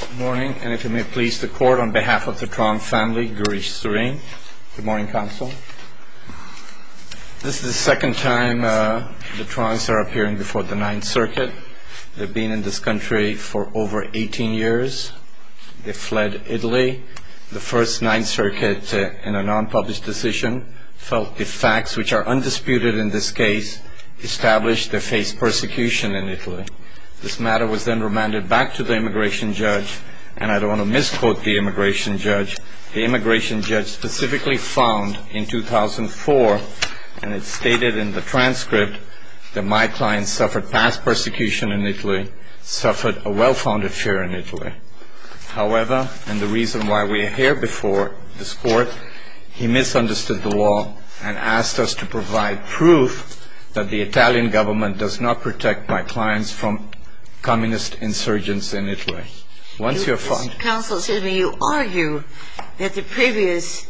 Good morning, and if you may please the court, on behalf of the Trong family, Gurish Surin. Good morning, counsel. This is the second time the Trongs are appearing before the Ninth Circuit. They've been in this country for over 18 years. They fled Italy. The first Ninth Circuit, in a non-published decision, felt the facts, which are undisputed in this case, established they faced persecution in Italy. This matter was then remanded back to the immigration judge. And I don't want to misquote the immigration judge. The immigration judge specifically found in 2004, and it's stated in the transcript, that my clients suffered past persecution in Italy, suffered a well-founded fear in Italy. However, and the reason why we are here before this court, he misunderstood the law and asked us to provide proof that the Italian government does not protect my clients from communist insurgents in Italy. Counsel, excuse me, you argue that the previous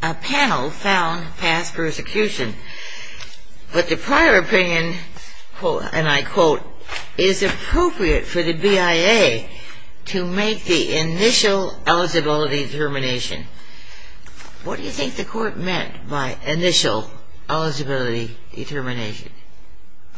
panel found past persecution. But the prior opinion, and I quote, is appropriate for the BIA to make the initial eligibility determination. What do you think the court meant by initial eligibility determination?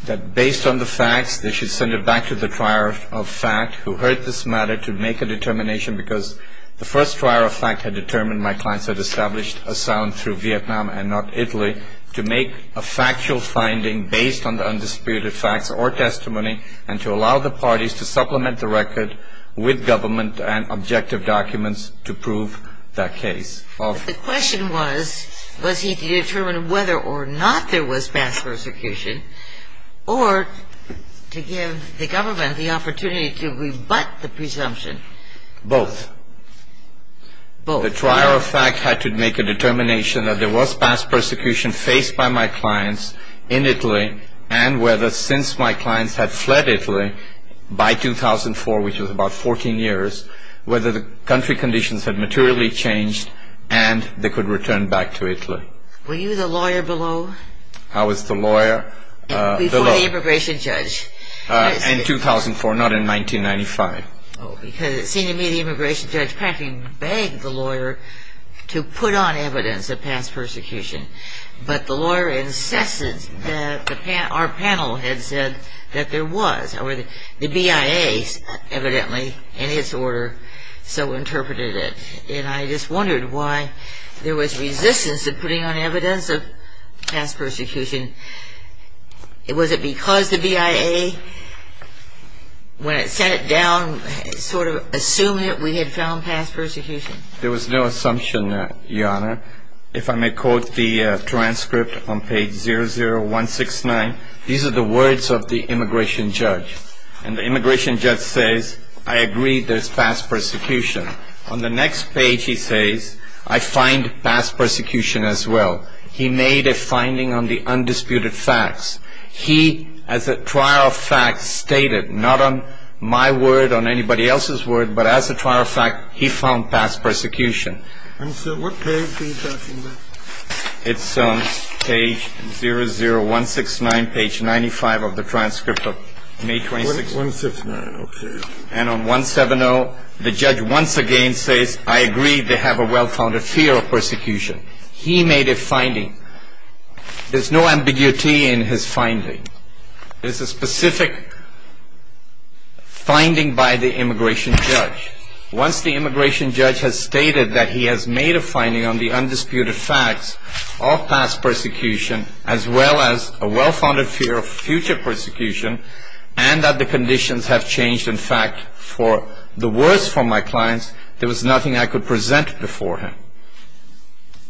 That based on the facts, they should send it back to the trier of fact, who heard this matter, to make a determination, because the first trier of fact had determined my clients had established asylum through Vietnam and not Italy, to make a factual finding based on the undisputed facts or testimony, and to allow the parties to supplement the record with government and objective documents to prove that case. The question was, was he to determine whether or not there was past persecution, or to give the government the opportunity to rebut the presumption? Both. Both. The trier of fact had to make a determination that there was past persecution faced by my clients in Italy, and whether since my clients had fled Italy by 2004, which was about 14 years, whether the country conditions had materially changed, and they could return back to Italy. Were you the lawyer below? I was the lawyer below. Before the immigration judge. In 2004, not in 1995. Because it seemed to me the immigration judge practically begged the lawyer to put on evidence of past persecution, but the lawyer insisted that our panel had said that there was. The BIA evidently, in its order, so interpreted it. And I just wondered why there was resistance to putting on evidence of past persecution. Was it because the BIA, when it sat it down, sort of assumed that we had found past persecution? There was no assumption, Your Honor. If I may quote the transcript on page 00169, these are the words of the immigration judge. And the immigration judge says, I agree there's past persecution. On the next page he says, I find past persecution as well. He made a finding on the undisputed facts. He, as a trier of fact, stated, not on my word, on anybody else's word, but as a trier of fact, he found past persecution. And, sir, what page are you talking about? It's page 00169, page 95 of the transcript of May 26th. 169, okay. And on 170, the judge once again says, I agree they have a well-founded fear of persecution. He made a finding. There's no ambiguity in his finding. It's a specific finding by the immigration judge. Once the immigration judge has stated that he has made a finding on the undisputed facts of past persecution, as well as a well-founded fear of future persecution, and that the conditions have changed, in fact, for the worse for my clients, there was nothing I could present before him.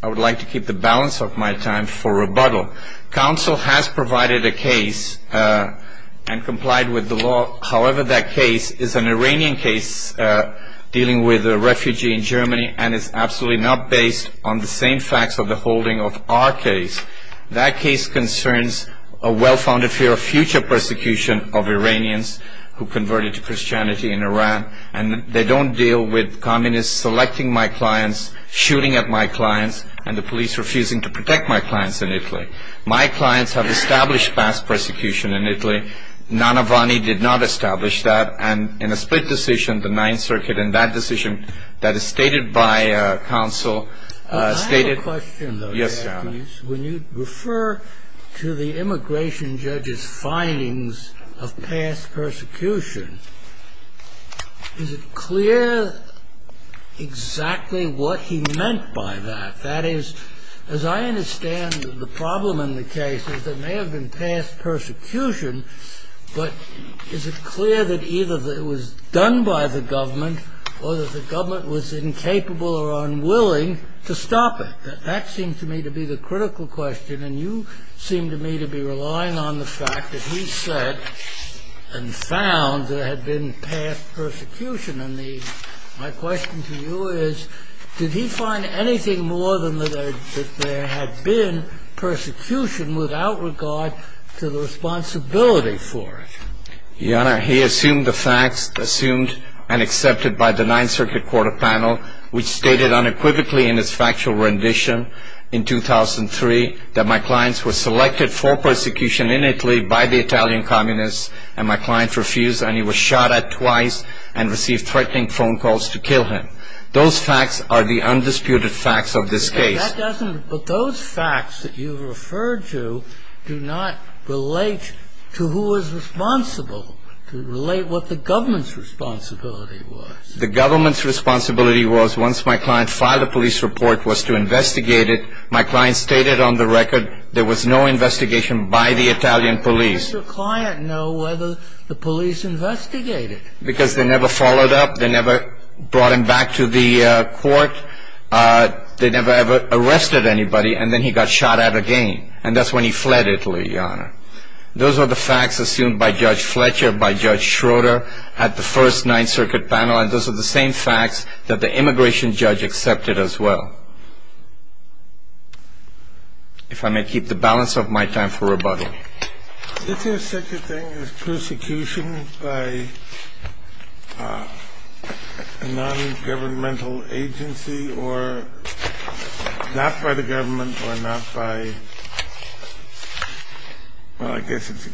I would like to keep the balance of my time for rebuttal. Counsel has provided a case and complied with the law. However, that case is an Iranian case dealing with a refugee in Germany, and it's absolutely not based on the same facts of the holding of our case. That case concerns a well-founded fear of future persecution of Iranians who converted to Christianity in Iran, and they don't deal with communists selecting my clients, shooting at my clients, and the police refusing to protect my clients in Italy. My clients have established past persecution in Italy. Nanavani did not establish that. And in a split decision, the Ninth Circuit, in that decision that is stated by counsel, stated- I have a question, though. Yes, Your Honor. When you refer to the immigration judge's findings of past persecution, is it clear exactly what he meant by that? That is, as I understand the problem in the case is that there may have been past persecution, but is it clear that either that it was done by the government or that the government was incapable or unwilling to stop it? That seems to me to be the critical question, and you seem to me to be relying on the fact that he said and found there had been past persecution. My question to you is, did he find anything more than that there had been persecution without regard to the responsibility for it? Your Honor, he assumed the facts assumed and accepted by the Ninth Circuit Court of Panel, which stated unequivocally in its factual rendition in 2003 that my clients were selected for persecution in Italy by the Italian communists, and my client refused and he was shot at twice and received threatening phone calls to kill him. Those facts are the undisputed facts of this case. But those facts that you referred to do not relate to who was responsible, to relate what the government's responsibility was. The government's responsibility was, once my client filed a police report, was to investigate it. My client stated on the record there was no investigation by the Italian police. How does your client know whether the police investigated? Because they never followed up, they never brought him back to the court, they never ever arrested anybody, and then he got shot at again. And that's when he fled Italy, Your Honor. Those are the facts assumed by Judge Fletcher, by Judge Schroeder at the first Ninth Circuit panel, and those are the same facts that the immigration judge accepted as well. If I may keep the balance of my time for rebuttal. Is there such a thing as persecution by a non-governmental agency or not by the government or not by... Well, I guess it's...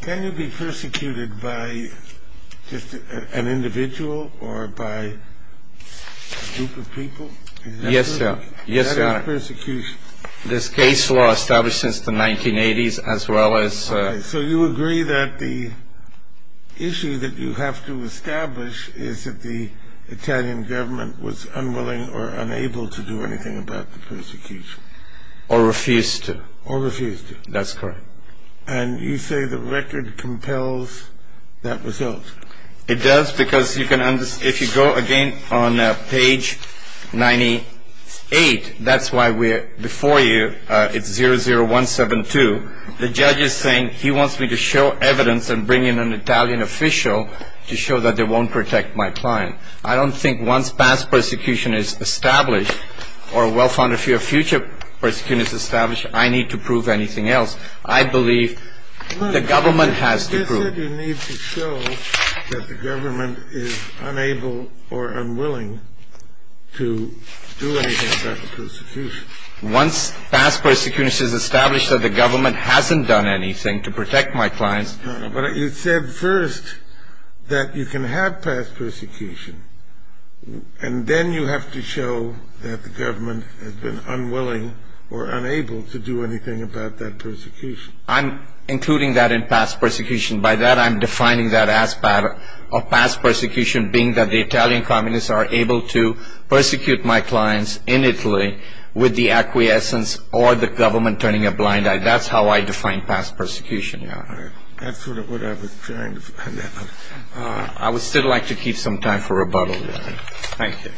Can you be persecuted by just an individual or by a group of people? Yes, Your Honor. That is persecution. This case law established since the 1980s as well as... So you agree that the issue that you have to establish is that the Italian government was unwilling or unable to do anything about the persecution. Or refused to. Or refused to. That's correct. And you say the record compels that result. It does because you can... If you go again on page 98, that's why we're before you. It's 00172. The judge is saying he wants me to show evidence and bring in an Italian official to show that they won't protect my client. I don't think once past persecution is established or well found a future persecution is established, I need to prove anything else. I believe the government has to prove. Why do you need to show that the government is unable or unwilling to do anything about the persecution? Once past persecution is established that the government hasn't done anything to protect my clients... But you said first that you can have past persecution and then you have to show that the government has been unwilling or unable to do anything about that persecution. I'm including that in past persecution. By that I'm defining that as part of past persecution, being that the Italian communists are able to persecute my clients in Italy with the acquiescence or the government turning a blind eye. That's how I define past persecution. That's what I was trying to find out. I would still like to keep some time for rebuttal. Thank you.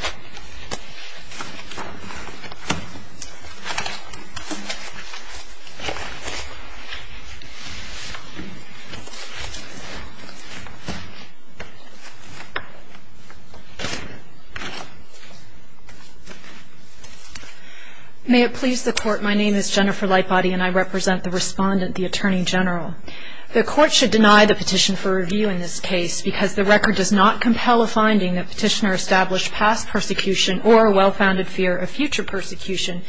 May it please the court. My name is Jennifer Lightbody and I represent the respondent, the Attorney General. The court should deny the petition for review in this case because the record does not compel a finding that petitioner established past persecution or a well-founded fear of future persecution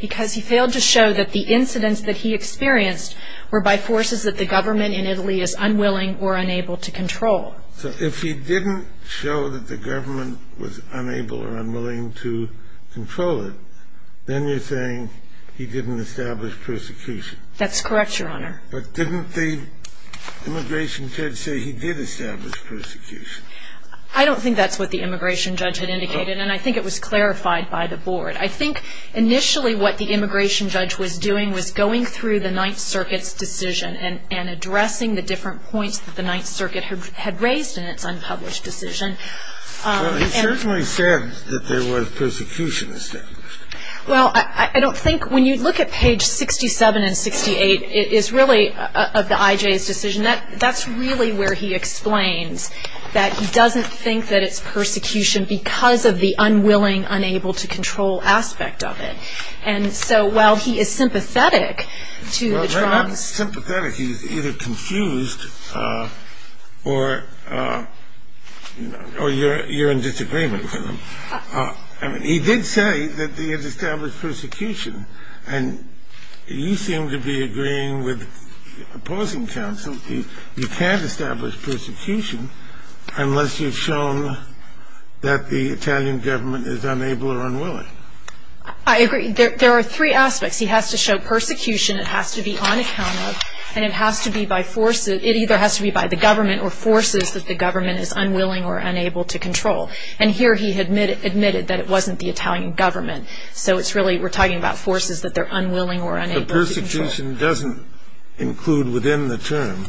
because he failed to show that the incidents that he experienced were by forces that the government in Italy is unwilling or unable to control. So if he didn't show that the government was unable or unwilling to control it, then you're saying he didn't establish persecution. That's correct, Your Honor. But didn't the immigration judge say he did establish persecution? I don't think that's what the immigration judge had indicated and I think it was clarified by the board. I think initially what the immigration judge was doing was going through the Ninth Circuit's decision and addressing the different points that the Ninth Circuit had raised in its unpublished decision. Well, he certainly said that there was persecution established. Well, I don't think when you look at page 67 and 68, it is really of the IJ's decision. That's really where he explains that he doesn't think that it's persecution because of the unwilling, unable-to-control aspect of it. And so while he is sympathetic to the Trumps... Well, not sympathetic. He's either confused or you're in disagreement with him. He did say that he had established persecution and you seem to be agreeing with opposing counsel. You can't establish persecution unless you've shown that the Italian government is unable or unwilling. I agree. There are three aspects. He has to show persecution, it has to be on account of, and it either has to be by the government or forces that the government is unwilling or unable to control. And here he admitted that it wasn't the Italian government. So it's really we're talking about forces that they're unwilling or unable to control. Persecution doesn't include within the term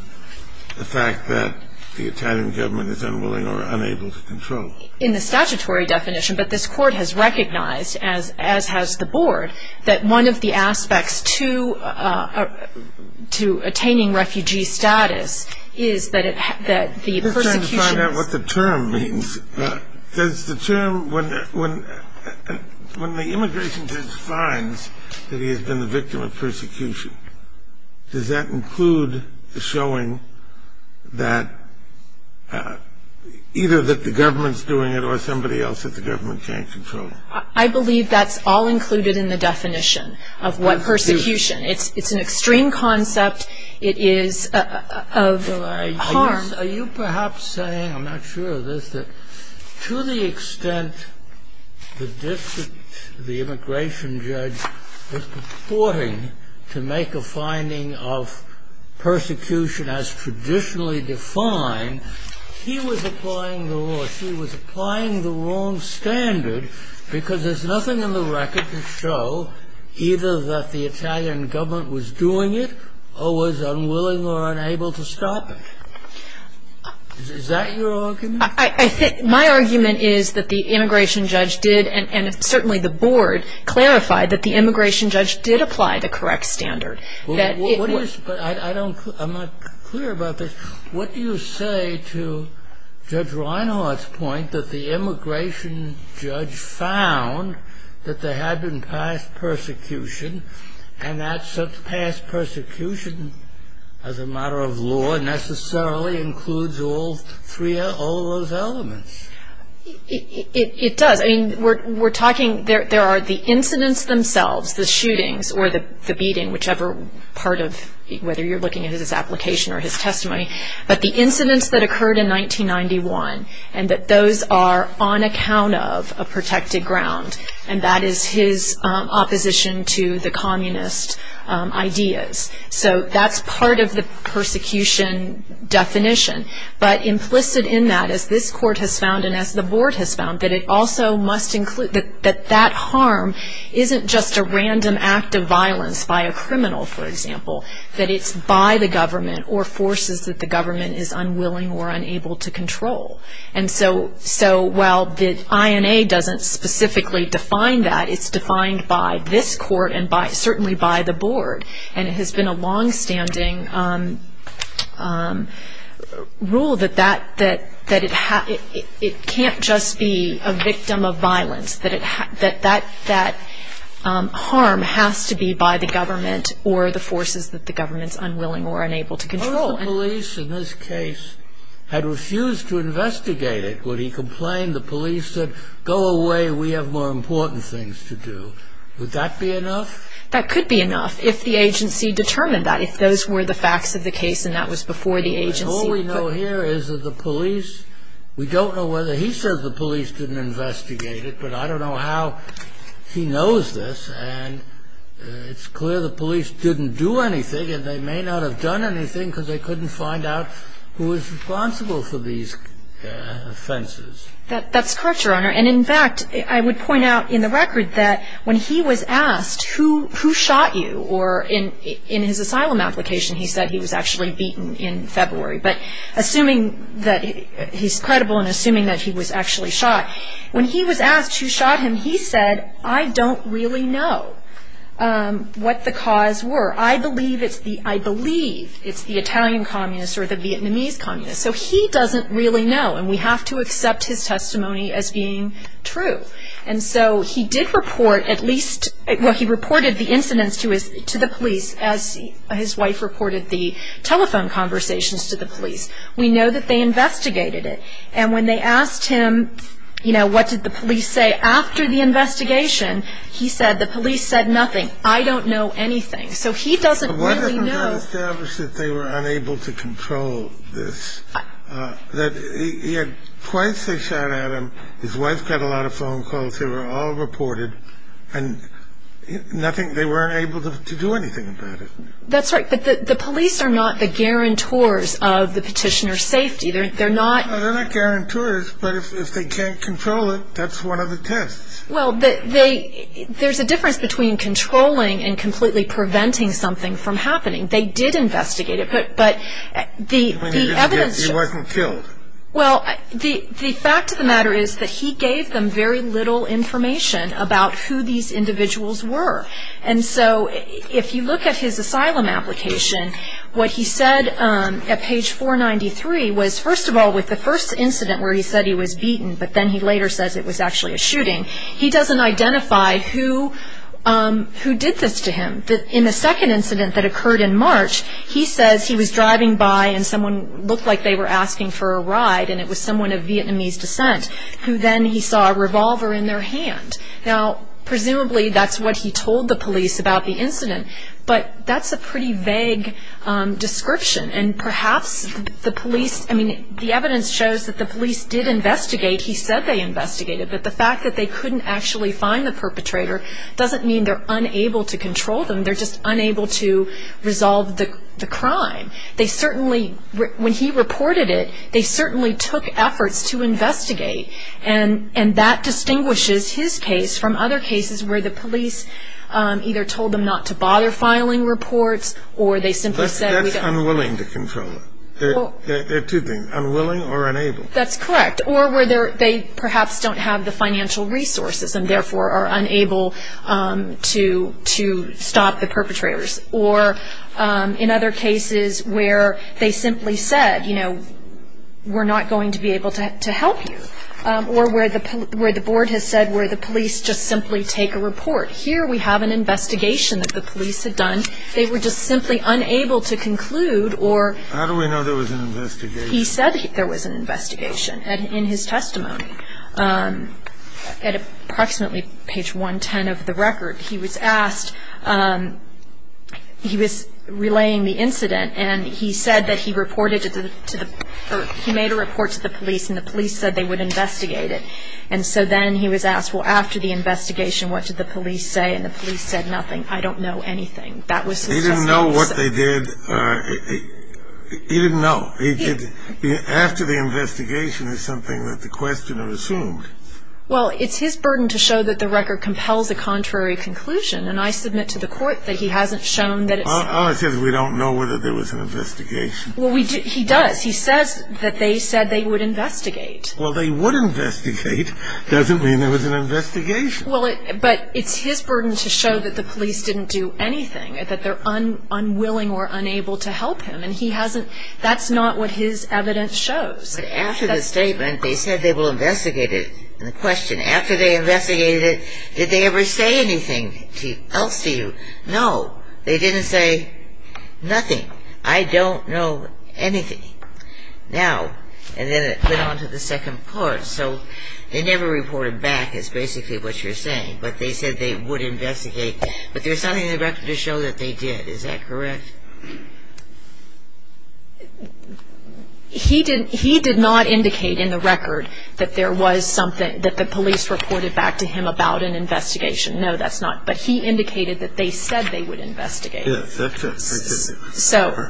the fact that the Italian government is unwilling or unable to control. In the statutory definition, but this court has recognized, as has the board, that one of the aspects to attaining refugee status is that the persecution... We're trying to find out what the term means. Does the term, when the immigration judge finds that he has been the victim of persecution, does that include the showing that either that the government's doing it or somebody else that the government can't control? I believe that's all included in the definition of what persecution. It's an extreme concept. It is of harm. Are you perhaps saying, I'm not sure of this, that to the extent the immigration judge was purporting to make a finding of persecution as traditionally defined, he was applying the wrong standard because there's nothing in the record to show either that the Italian government was doing it or was unwilling or unable to stop it? Is that your argument? My argument is that the immigration judge did, and certainly the board, clarified that the immigration judge did apply the correct standard. I'm not clear about this. What do you say to Judge Reinhart's point that the immigration judge found that there had been past persecution, and that such past persecution as a matter of law necessarily includes all of those elements? It does. We're talking, there are the incidents themselves, the shootings or the beating, whichever part of, whether you're looking at his application or his testimony, but the incidents that occurred in 1991 and that those are on account of a protected ground, and that is his opposition to the communist ideas. So that's part of the persecution definition. But implicit in that, as this court has found and as the board has found, that that harm isn't just a random act of violence by a criminal, for example, that it's by the government or forces that the government is unwilling or unable to control. And so while the INA doesn't specifically define that, it's defined by this court and certainly by the board. And it has been a longstanding rule that it can't just be a victim of violence, that that harm has to be by the government or the forces that the government is unwilling or unable to control. If a police in this case had refused to investigate it, would he complain, the police said, go away, we have more important things to do. Would that be enough? That could be enough if the agency determined that, if those were the facts of the case and that was before the agency. All we know here is that the police, we don't know whether he says the police didn't investigate it, but I don't know how he knows this. And it's clear the police didn't do anything and they may not have done anything because they couldn't find out who was responsible for these offenses. That's correct, Your Honor. And in fact, I would point out in the record that when he was asked, who shot you? Or in his asylum application, he said he was actually beaten in February. But assuming that he's credible and assuming that he was actually shot, when he was asked who shot him, he said, I don't really know what the cause were. I believe it's the Italian communists or the Vietnamese communists. So he doesn't really know and we have to accept his testimony as being true. And so he did report at least, well, he reported the incidents to the police as his wife reported the telephone conversations to the police. We know that they investigated it. And when they asked him, you know, what did the police say after the investigation, he said the police said nothing. I don't know anything. So he doesn't really know. But what if it was established that they were unable to control this, that he had twice they shot at him, his wife got a lot of phone calls, they were all reported and nothing, they weren't able to do anything about it. That's right. But the police are not the guarantors of the petitioner's safety. They're not. They're not guarantors, but if they can't control it, that's one of the tests. Well, there's a difference between controlling and completely preventing something from happening. They did investigate it, but the evidence. He wasn't killed. Well, the fact of the matter is that he gave them very little information about who these individuals were. And so if you look at his asylum application, what he said at page 493 was, first of all, with the first incident where he said he was beaten, but then he later says it was actually a shooting, he doesn't identify who did this to him. In the second incident that occurred in March, he says he was driving by and someone looked like they were asking for a ride, and it was someone of Vietnamese descent, who then he saw a revolver in their hand. Now, presumably that's what he told the police about the incident, but that's a pretty vague description. And perhaps the police, I mean, the evidence shows that the police did investigate. He said they investigated, but the fact that they couldn't actually find the perpetrator doesn't mean they're unable to control them. They're just unable to resolve the crime. They certainly, when he reported it, they certainly took efforts to investigate. And that distinguishes his case from other cases where the police either told them not to bother filing reports, or they simply said we don't. That's unwilling to control them. There are two things, unwilling or unable. That's correct. Or where they perhaps don't have the financial resources and therefore are unable to stop the perpetrators. Or in other cases where they simply said, you know, we're not going to be able to help you. Or where the board has said where the police just simply take a report. Here we have an investigation that the police had done. They were just simply unable to conclude or he said there was an investigation. And in his testimony, at approximately page 110 of the record, he was asked, he was relaying the incident, and he said that he reported to the, or he made a report to the police and the police said they would investigate it. And so then he was asked, well, after the investigation, what did the police say? And the police said nothing. I don't know anything. That was his testimony. He didn't know what they did. He didn't know. After the investigation is something that the questioner assumed. Well, it's his burden to show that the record compels a contrary conclusion. And I submit to the court that he hasn't shown that it's. All I said is we don't know whether there was an investigation. Well, he does. He says that they said they would investigate. Well, they would investigate doesn't mean there was an investigation. Well, but it's his burden to show that the police didn't do anything, that they're unwilling or unable to help him. And he hasn't, that's not what his evidence shows. But after the statement, they said they will investigate it. And the question, after they investigated it, did they ever say anything else to you? No. They didn't say nothing. I don't know anything now. And then it went on to the second part. So they never reported back is basically what you're saying. But they said they would investigate. But there's something in the record to show that they did. Is that correct? He did not indicate in the record that there was something, that the police reported back to him about an investigation. No, that's not. But he indicated that they said they would investigate. So,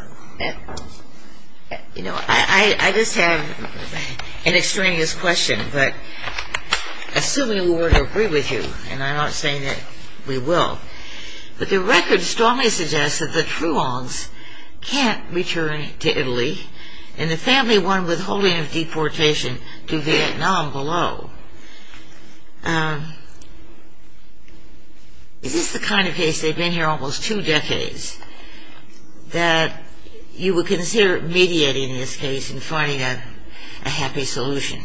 you know, I just have an extraneous question. But assuming we were to agree with you, and I'm not saying that we will, but the record strongly suggests that the Truongs can't return to Italy and the family won withholding of deportation to Vietnam below. Is this the kind of case, they've been here almost two decades, that you would consider mediating this case and finding a happy solution?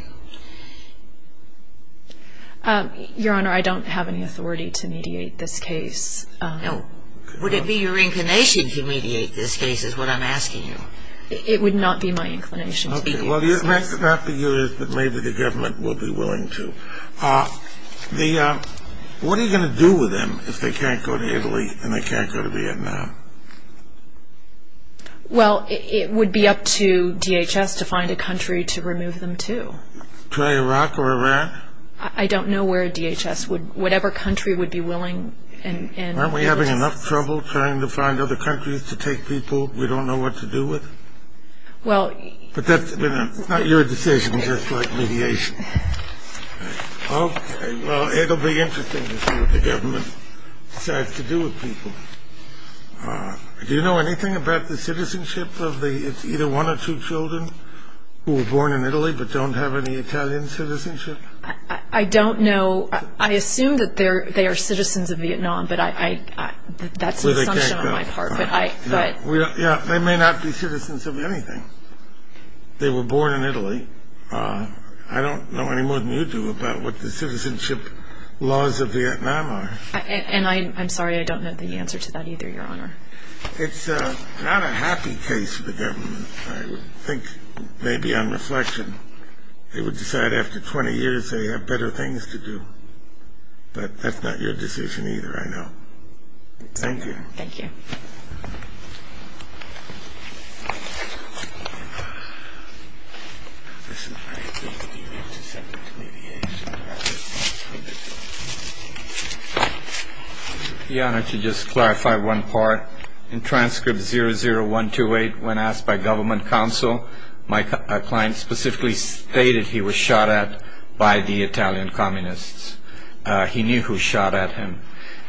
Your Honor, I don't have any authority to mediate this case. No. Would it be your inclination to mediate this case is what I'm asking you. Well, it might not be yours, but maybe the government will be willing to. What are you going to do with them if they can't go to Italy and they can't go to Vietnam? Well, it would be up to DHS to find a country to remove them to. To Iraq or Iran? I don't know where DHS would, whatever country would be willing. Aren't we having enough trouble trying to find other countries to take people we don't know what to do with? But that's not your decision, just like mediation. Okay, well, it'll be interesting to see what the government decides to do with people. Do you know anything about the citizenship of either one or two children who were born in Italy but don't have any Italian citizenship? I don't know. I assume that they are citizens of Vietnam, but that's an assumption on my part. They may not be citizens of anything. They were born in Italy. I don't know any more than you do about what the citizenship laws of Vietnam are. And I'm sorry, I don't have the answer to that either, Your Honor. It's not a happy case for the government, I think, maybe on reflection. They would decide after 20 years they have better things to do. But that's not your decision either, I know. Thank you. Thank you. Your Honor, to just clarify one part. In transcript 00128, when asked by government counsel, my client specifically stated he was shot at by the Italian communists. He knew who shot at him.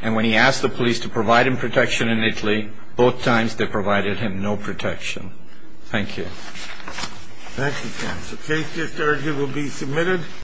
And when he asked the police to provide him protection in Italy, both times they provided him no protection. Thank you. Thank you, counsel. Case just ordered will be submitted.